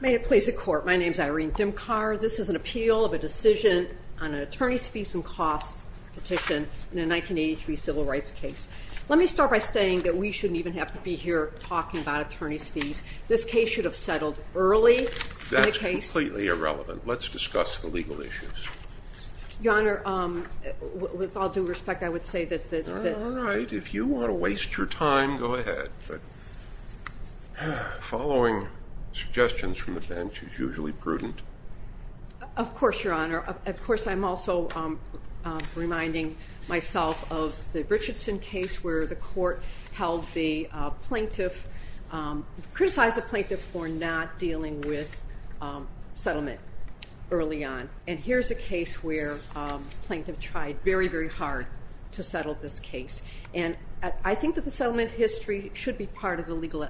May it please the court my name is Irene Dimkar This is an appeal of a decision on an attorney's fees and costs petition in a 1983 civil rights case Let me start by saying that we shouldn't even have to be here talking about attorney's fees. This case should have settled early That's completely irrelevant. Let's discuss the legal issues your honor With all due respect. I would say that all right if you want to waste your time go ahead, but Following suggestions from the bench is usually prudent Of course your honor of course. I'm also Reminding myself of the Richardson case where the court held the plaintiff criticized a plaintiff for not dealing with settlement early on and here's a case where Plaintiff tried very very hard to settle this case And I think that the settlement history should be part of the legal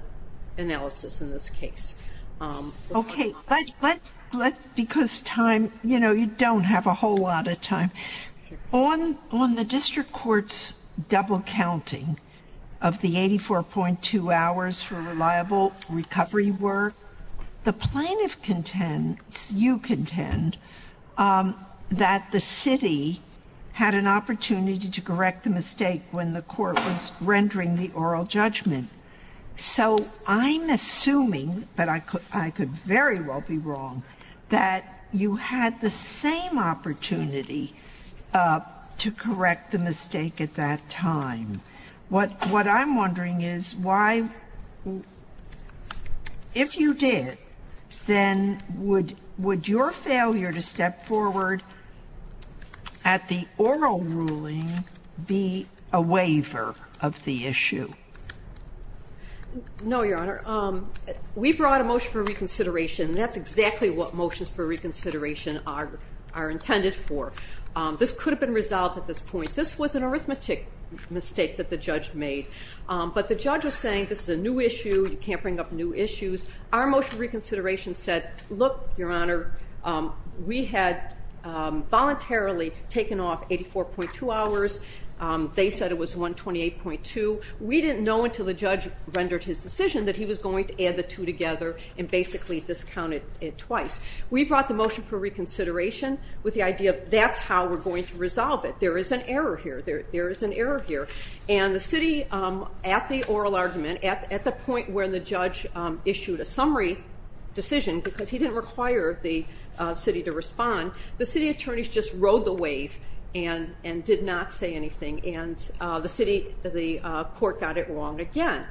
analysis in this case Okay, but let's because time you know you don't have a whole lot of time on on the district courts double counting of the 84.2 hours for reliable recovery work the plaintiff contends you contend That the city Had an opportunity to correct the mistake when the court was rendering the oral judgment So I'm assuming that I could I could very well be wrong that you had the same opportunity To correct the mistake at that time what what I'm wondering is why If you did then would would your failure to step forward At the oral ruling be a waiver of the issue No your honor We brought a motion for reconsideration That's exactly what motions for reconsideration are are intended for this could have been resolved at this point This was an arithmetic mistake that the judge made But the judge was saying this is a new issue you can't bring up new issues our motion reconsideration said look your honor we had Voluntarily taken off 84.2 hours They said it was 128.2 We didn't know until the judge rendered his decision that he was going to add the two together and basically discounted it twice We brought the motion for reconsideration with the idea of that's how we're going to resolve it. There is an error here There is an error here and the city at the oral argument at the point where the judge issued a summary Decision because he didn't require the city to respond the city attorneys Just rode the wave and and did not say anything and the city the court got it wrong again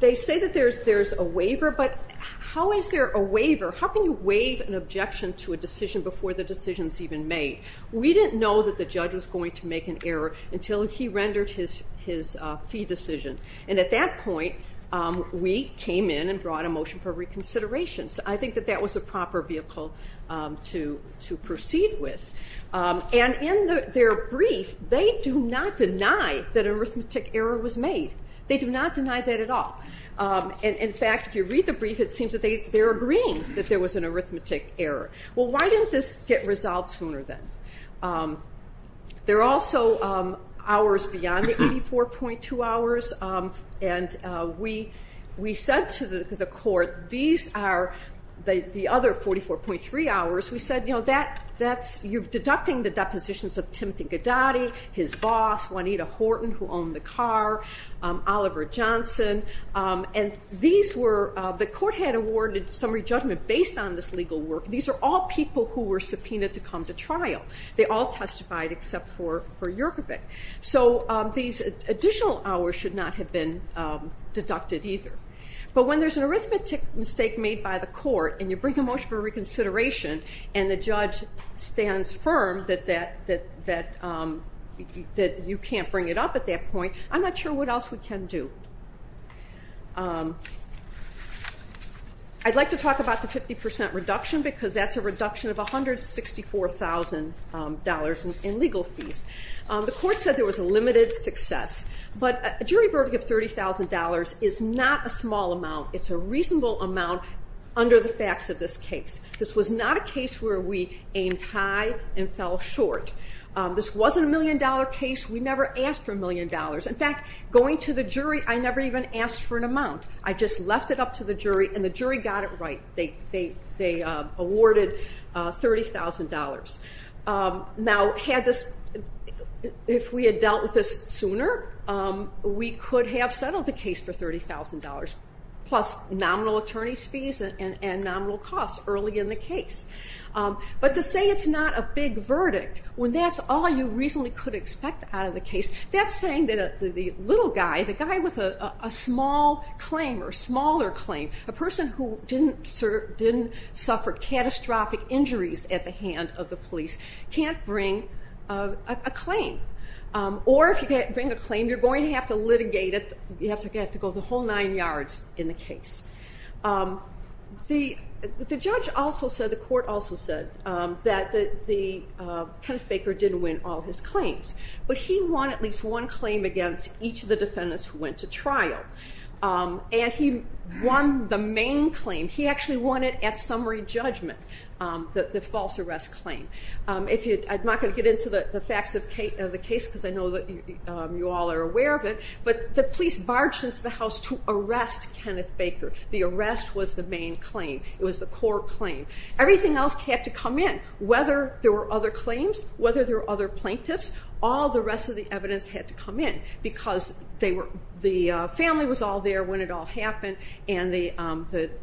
They say that there's there's a waiver, but how is there a waiver? How can you waive an objection to a decision before the decisions even made? We didn't know that the judge was going to make an error until he rendered his his fee decision and at that point We came in and brought a motion for reconsideration. So I think that that was a proper vehicle to to proceed with And in their brief they do not deny that arithmetic error was made. They do not deny that at all And in fact if you read the brief, it seems that they they're agreeing that there was an arithmetic error Well, why didn't this get resolved sooner then? They're also hours beyond the 84.2 hours and We we said to the court these are the the other 44.3 hours We said, you know that that's you've deducting the depositions of Timothy Gadotti his boss Juanita Horton who owned the car Oliver Johnson And these were the court had awarded summary judgment based on this legal work These are all people who were subpoenaed to come to trial. They all testified except for for Yerkovic So these additional hours should not have been deducted either But when there's an arithmetic mistake made by the court and you bring a motion for reconsideration and the judge stands firm that that that that That you can't bring it up at that point. I'm not sure what else we can do I Like to talk about the 50% reduction because that's a reduction of a hundred sixty four thousand dollars in legal fees The court said there was a limited success, but a jury verdict of $30,000 is not a small amount It's a reasonable amount under the facts of this case. This was not a case where we aimed high and fell short This wasn't a million dollar case. We never asked for a million dollars. In fact going to the jury I never even asked for an amount. I just left it up to the jury and the jury got it, right? They they they awarded $30,000 now had this If we had dealt with this sooner We could have settled the case for $30,000 plus nominal attorney's fees and and nominal costs early in the case But to say it's not a big verdict when that's all you reasonably could expect out of the case That's saying that the little guy the guy with a small claim or smaller claim a person who didn't serve didn't Suffer catastrophic injuries at the hand of the police can't bring a claim Or if you can't bring a claim you're going to have to litigate it You have to get to go the whole nine yards in the case The the judge also said the court also said that the the Kenneth Baker didn't win all his claims, but he won at least one claim against each of the defendants who went to trial And he won the main claim. He actually won it at summary judgment that the false arrest claim If you I'm not going to get into the facts of the case because I know that you all are aware of it But the police barged into the house to arrest Kenneth Baker. The arrest was the main claim It was the core claim everything else had to come in whether there were other claims whether there were other plaintiffs all the rest of the evidence had to come in because they were the family was all there when it all happened and the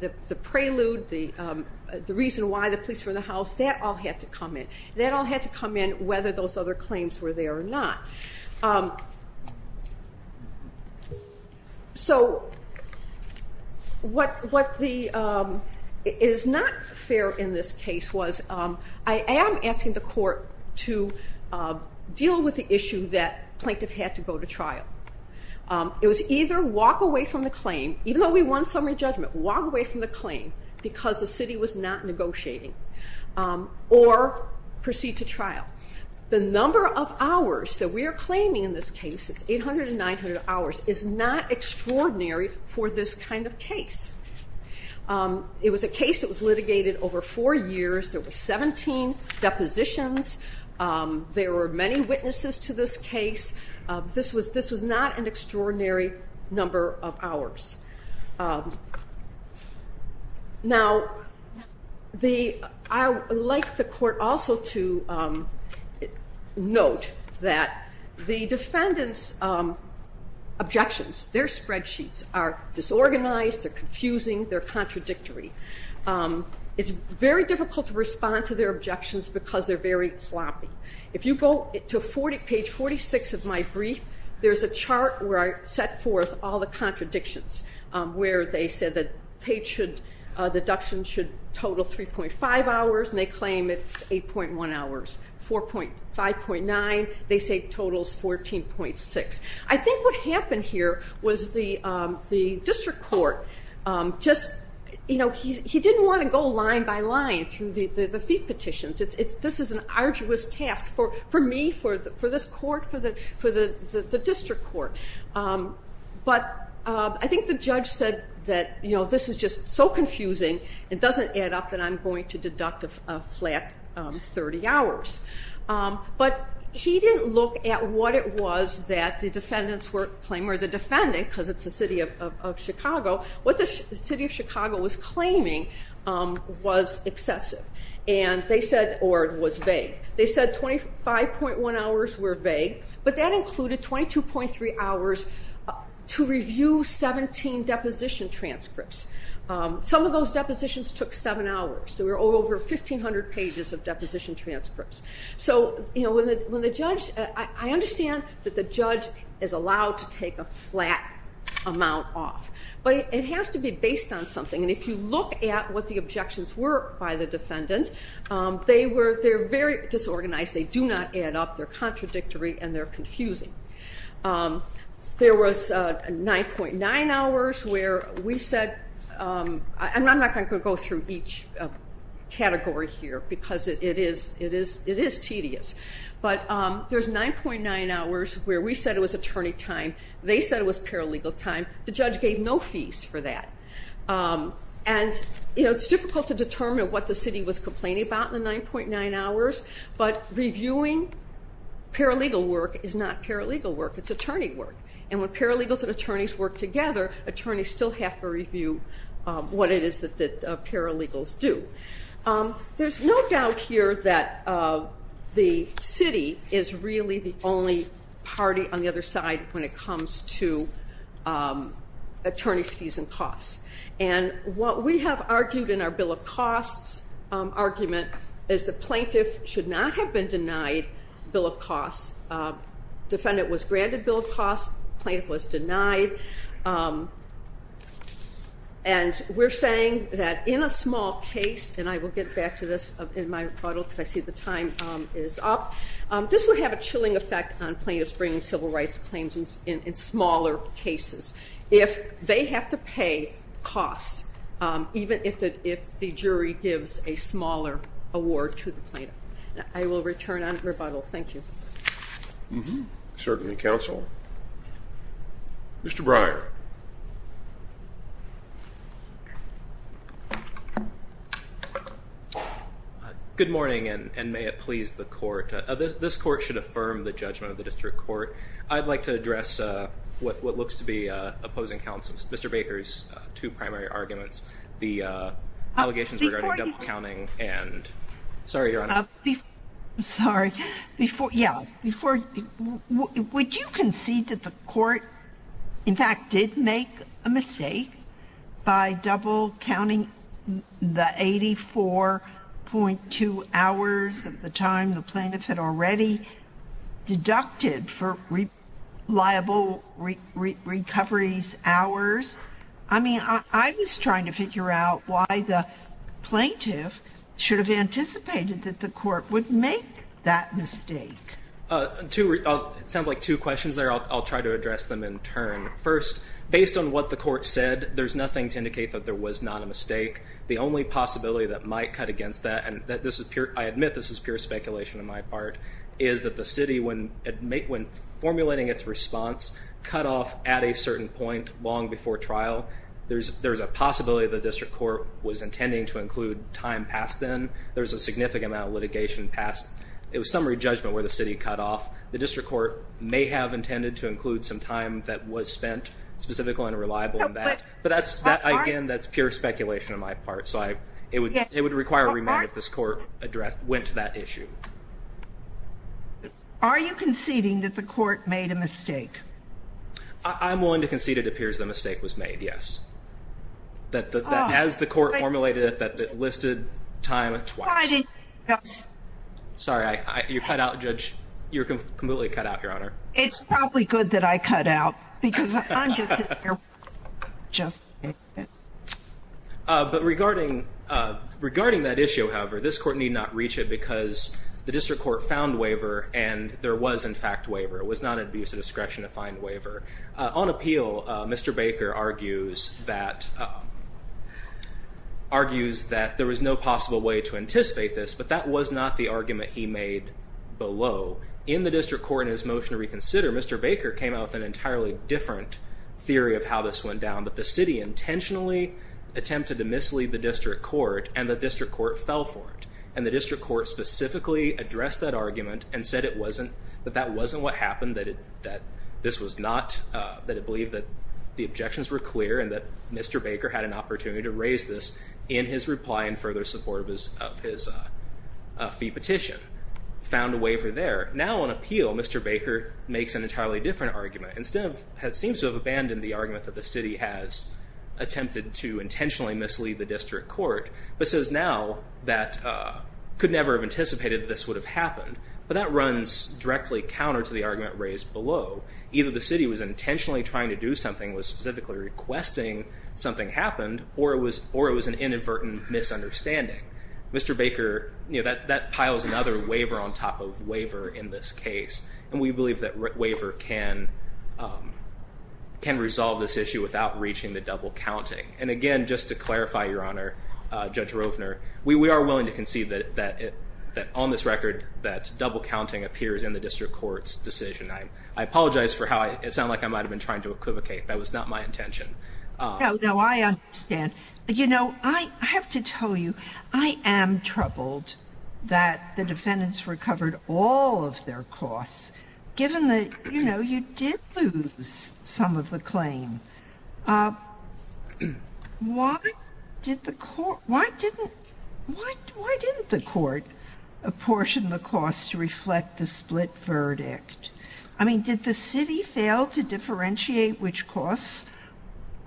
the the prelude the The reason why the police were in the house that all had to come in that all had to come in whether those other claims Were there or not? So What what the Is not fair in this case was I am asking the court to Deal with the issue that plaintiff had to go to trial It was either walk away from the claim even though we won summary judgment walk away from the claim because the city was not negotiating or Proceed to trial the number of hours that we are claiming in this case. It's 800 and 900 hours is not Extraordinary for this kind of case It was a case that was litigated over four years there were 17 depositions There were many witnesses to this case. This was this was not an extraordinary number of hours Now the I like the court also to Note that the defendants Objections their spreadsheets are disorganized. They're confusing. They're contradictory It's very difficult to respond to their objections because they're very sloppy If you go to 40 page 46 of my brief There's a chart where I set forth all the contradictions where they said that page should Deductions should total 3.5 hours and they claim it's 8.1 hours 4.5.9 they say totals 14.6. I think what happened here was the the district court Just you know, he didn't want to go line by line through the the feet petitions It's it's this is an arduous task for for me for the for this court for the for the the district court But I think the judge said that you know, this is just so confusing It doesn't add up that I'm going to deduct a flat 30 hours but he didn't look at what it was that the defendants were claim or the defendant because it's the city of Chicago what the city of Chicago was claiming Was excessive and they said or was vague They said 25.1 hours were vague, but that included 22.3 hours to review 17 deposition transcripts Some of those depositions took seven hours, so we're over 1,500 pages of deposition transcripts So, you know when the judge I understand that the judge is allowed to take a flat Amount off but it has to be based on something and if you look at what the objections were by the defendant They were they're very disorganized. They do not add up. They're contradictory and they're confusing there was 9.9 hours where we said I'm not going to go through each Category here because it is it is it is tedious But there's 9.9 hours where we said it was attorney time They said it was paralegal time the judge gave no fees for that And you know, it's difficult to determine what the city was complaining about in the 9.9 hours, but reviewing Paralegal work is not paralegal work. It's attorney work and when paralegals and attorneys work together attorneys still have to review What it is that that paralegals do there's no doubt here that The city is really the only party on the other side when it comes to Attorney skis and costs and what we have argued in our bill of costs Argument is the plaintiff should not have been denied bill of costs Defendant was granted bill of costs plaintiff was denied We're saying that in a small case and I will get back to this in my photo because I see the time is up This would have a chilling effect on plaintiffs bringing civil rights claims in smaller cases if they have to pay costs Even if that if the jury gives a smaller award to the plaintiff, I will return on rebuttal. Thank you Certainly counsel Mr. Breyer I Good morning, and may it please the court this court should affirm the judgment of the district court. I'd like to address What what looks to be opposing counsels? Mr. Baker's two primary arguments the allegations regarding accounting and Sorry, you're not Sorry before yeah before By double counting the 84 point two hours at the time the plaintiff had already Deducted for liable recoveries hours, I mean I was trying to figure out why the Plaintiff should have anticipated that the court would make that mistake To it sounds like two questions there I'll try to address them in turn first based on what the court said There's nothing to indicate that there was not a mistake The only possibility that might cut against that and that this is pure I admit this is pure speculation on my part Is that the city when it make when formulating its response cut off at a certain point long before trial? There's there's a possibility the district court was intending to include time past then there's a significant amount of litigation past It was summary judgment where the city cut off the district court may have intended to include some time that was spent Specifical and reliable in that but that's that again. That's pure speculation on my part So I it would it would require a remand if this court addressed went to that issue Are you conceding that the court made a mistake? I'm willing to concede it appears the mistake was made. Yes That that has the court formulated that that listed time I did yes Sorry, I you cut out judge. You're completely cut out your honor. It's probably good that I cut out because Just But regarding Regarding that issue. However, this court need not reach it because the district court found waiver and there was in fact waiver It was not an abuse of discretion to find waiver on appeal. Mr. Baker argues that Argues that there was no possible way to anticipate this but that was not the argument he made Below in the district court in his motion to reconsider. Mr. Baker came out with an entirely different Theory of how this went down that the city intentionally Attempted to mislead the district court and the district court fell for it and the district court Specifically addressed that argument and said it wasn't that that wasn't what happened that it that this was not That it believed that the objections were clear and that mr Baker had an opportunity to raise this in his reply and further support of his of his fee petition Found a waiver there now on appeal. Mr. Baker makes an entirely different argument instead of had seems to have abandoned the argument that the city has attempted to intentionally mislead the district court, but says now that Could never have anticipated this would have happened But that runs directly counter to the argument raised below either the city was intentionally trying to do something was specifically Requesting something happened or it was or it was an inadvertent misunderstanding Mr. Baker, you know that that piles another waiver on top of waiver in this case, and we believe that waiver can Can resolve this issue without reaching the double counting and again just to clarify your honor Judge Rovner we we are willing to concede that that that on this record that double counting appears in the district courts decision I I apologize for how I sound like I might have been trying to equivocate that was not my intention No, I understand. You know, I have to tell you I am troubled that The defendants recovered all of their costs given the you know, you did lose some of the claim Why Did the court why didn't Why didn't the court? Apportion the costs to reflect the split verdict. I mean did the city fail to differentiate which costs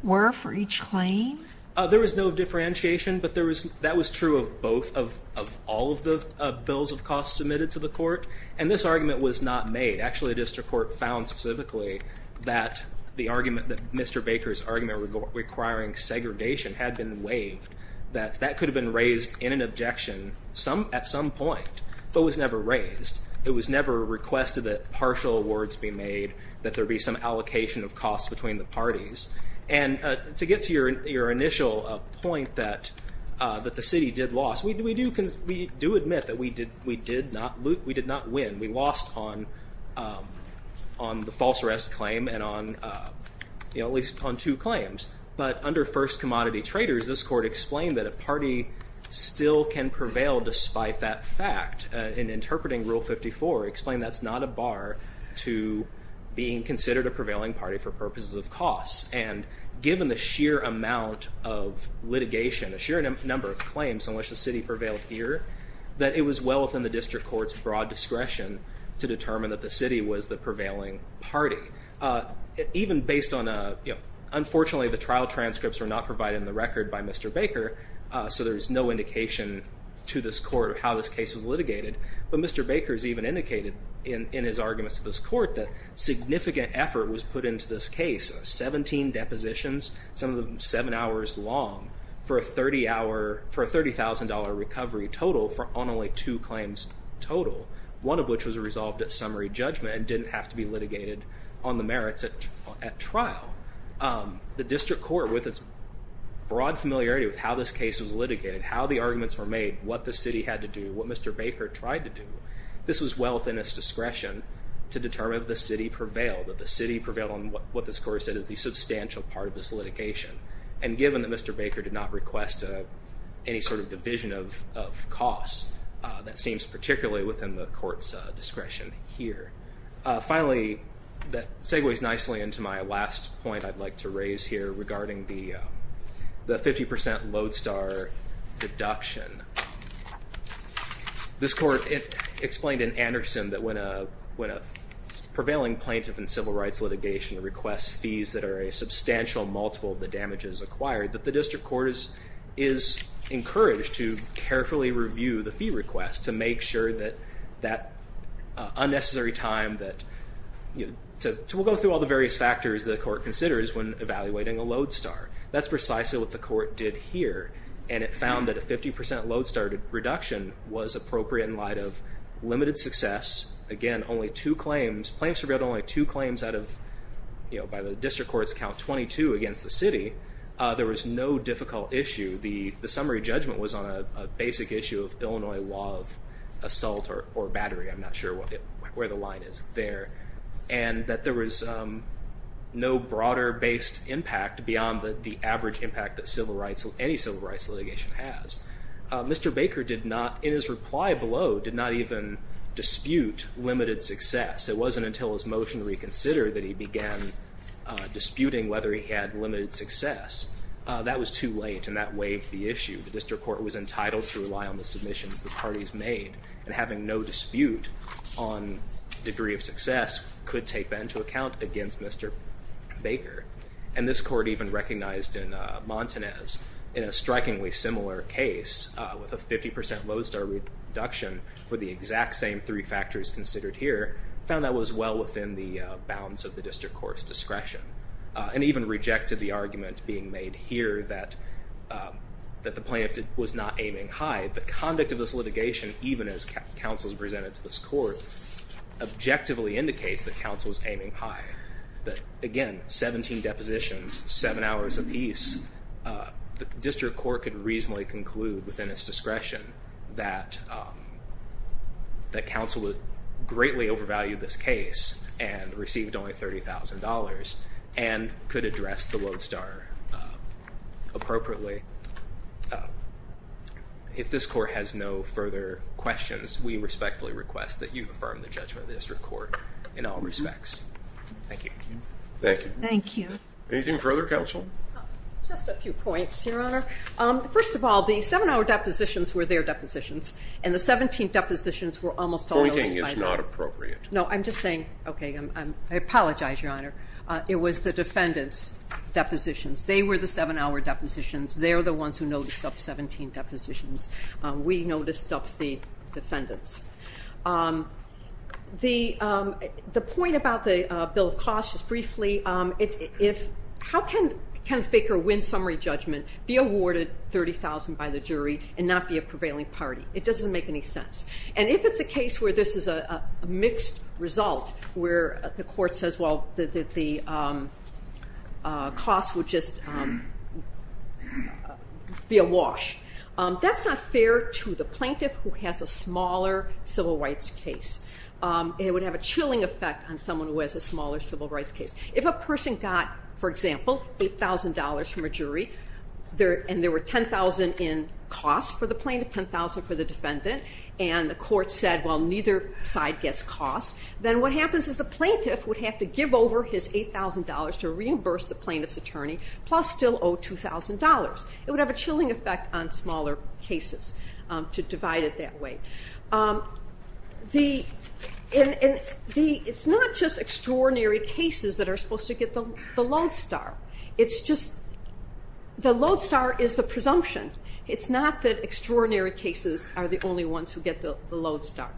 were for each claim There was no differentiation But there was that was true of both of all of the bills of costs submitted to the court and this argument was not made Actually, the district court found specifically that the argument that Mr. Baker's argument requiring Segregation had been waived that that could have been raised in an objection some at some point but was never raised it was never requested that partial awards be made that there be some allocation of costs between the parties and To get to your initial point that that the city did loss We do we do because we do admit that we did we did not we did not win we lost on The false arrest claim and on You know at least on two claims, but under first commodity traders this court explained that a party Still can prevail despite that fact in interpreting rule 54 explained that's not a bar to being considered a prevailing party for purposes of costs and given the sheer amount of Litigation a sheer number of claims in which the city prevailed here that it was well within the district courts broad Discretion to determine that the city was the prevailing party Even based on a you know, unfortunately the trial transcripts were not provided in the record by mr. Baker So there's no indication to this court how this case was litigated But mr. Baker's even indicated in in his arguments to this court that Significant effort was put into this case 17 depositions some of them seven hours long for a 30 hour for a thirty thousand dollar recovery Total for on only two claims total one of which was resolved at summary judgment and didn't have to be litigated on the merits at at trial the district court with its Broad familiarity with how this case was litigated how the arguments were made what the city had to do what mr. Baker tried to do This was well within its discretion to determine the city prevailed that the city prevailed on what this court said is the substantial part of this litigation and given that mr. Baker did not request any sort of division of Costs that seems particularly within the court's discretion here Finally that segues nicely into my last point. I'd like to raise here regarding the the 50% lodestar deduction This court it explained in Anderson that when a when a prevailing plaintiff and civil rights litigation requests fees that are a substantial multiple of the damages acquired that the district court is is Carefully review the fee request to make sure that that unnecessary time that You know, so we'll go through all the various factors the court considers when evaluating a lodestar That's precisely what the court did here and it found that a 50% lodestar reduction was appropriate in light of limited success again, only two claims claims revealed only two claims out of You know by the district courts count 22 against the city There was no difficult issue the the summary judgment was on a basic issue of Illinois law of Assault or battery. I'm not sure what it where the line is there and that there was No broader based impact beyond the average impact that civil rights of any civil rights litigation has Mr. Baker did not in his reply below did not even Dispute limited success. It wasn't until his motion reconsider that he began Disputing whether he had limited success That was too late and that waived the issue. The district court was entitled to rely on the submissions The parties made and having no dispute on Degree of success could take that into account against. Mr. Baker and this court even recognized in Montanez in a strikingly similar case with a 50% lodestar Reduction for the exact same three factors considered here found that was well within the bounds of the district courts discretion and even rejected the argument being made here that That the plaintiff was not aiming high the conduct of this litigation even as counsels presented to this court Objectively indicates that counsel was aiming high that again 17 depositions seven hours of peace The district court could reasonably conclude within its discretion that That counsel would greatly overvalued this case and received only $30,000 and could address the lodestar appropriately If this court has no further questions, we respectfully request that you affirm the judgment of the district court in all respects Thank you. Thank you. Thank you anything further counsel Your honor. First of all, the seven-hour depositions were their depositions and the 17th depositions were almost always not appropriate No, I'm just saying okay. I'm I apologize your honor. It was the defendants Depositions they were the seven-hour depositions. They're the ones who noticed up 17 depositions. We noticed up the defendants The The point about the bill of costs is briefly If how can Kenneth Baker win summary judgment be awarded? 30,000 by the jury and not be a prevailing party it doesn't make any sense and if it's a case where this is a mixed result where the court says well that the Cost would just Be a wash That's not fair to the plaintiff who has a smaller civil rights case It would have a chilling effect on someone who has a smaller civil rights case if a person got for example $8,000 from a jury there and there were 10,000 in costs for the plaintiff 10,000 for the defendant and the court said well Neither side gets cost then what happens is the plaintiff would have to give over his $8,000 to reimburse the plaintiff's attorney plus still owe $2,000 it would have a chilling effect on smaller cases to divide it that way The In the it's not just extraordinary cases that are supposed to get them the lodestar. It's just The lodestar is the presumption. It's not that extraordinary cases are the only ones who get the lodestar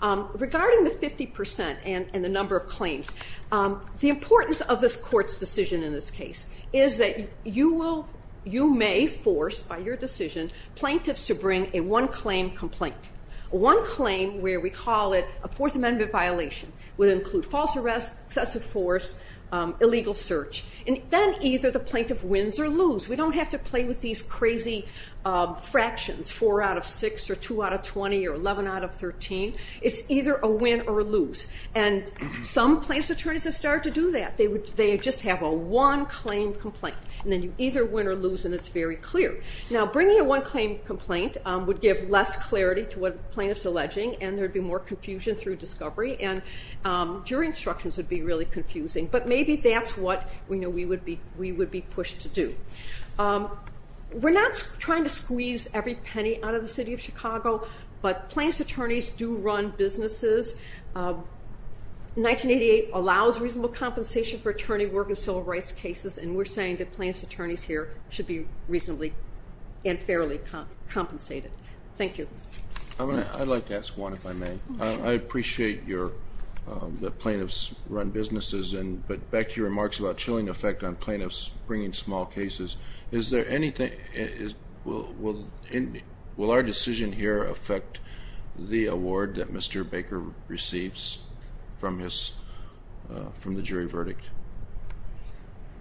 regarding the 50% and in the number of claims The importance of this court's decision in this case is that you will you may force by your decision Plaintiffs to bring a one-claim complaint One claim where we call it a fourth amendment violation would include false arrest excessive force Illegal search and then either the plaintiff wins or lose. We don't have to play with these crazy fractions 4 out of 6 or 2 out of 20 or 11 out of 13, it's either a win or lose and Some plaintiffs attorneys have started to do that They would they just have a one claim complaint and then you either win or lose and it's very clear now bringing a one complaint would give less clarity to what plaintiffs alleging and there'd be more confusion through discovery and Jury instructions would be really confusing, but maybe that's what we know. We would be we would be pushed to do We're not trying to squeeze every penny out of the city of Chicago, but plaintiffs attorneys do run businesses 1988 allows reasonable compensation for attorney work and civil rights cases and we're saying that plaintiffs attorneys here should be reasonably and Compensated. Thank you. I mean, I'd like to ask one if I may I appreciate your Plaintiffs run businesses and but back to your remarks about chilling effect on plaintiffs bringing small cases. Is there anything is Will our decision here affect the award that mr. Baker receives from his from the jury verdict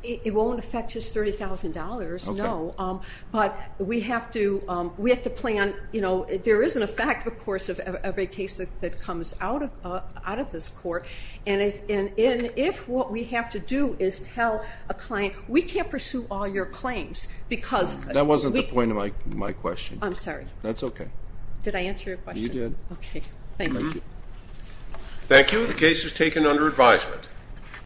It won't affect just $30,000. No, but we have to we have to plan You know There isn't a fact of course of every case that comes out of out of this court And if in if what we have to do is tell a client we can't pursue all your claims Because that wasn't the point of my my question. I'm sorry. That's okay. Did I answer you did? Okay. Thank you Thank you. The case is taken under advisement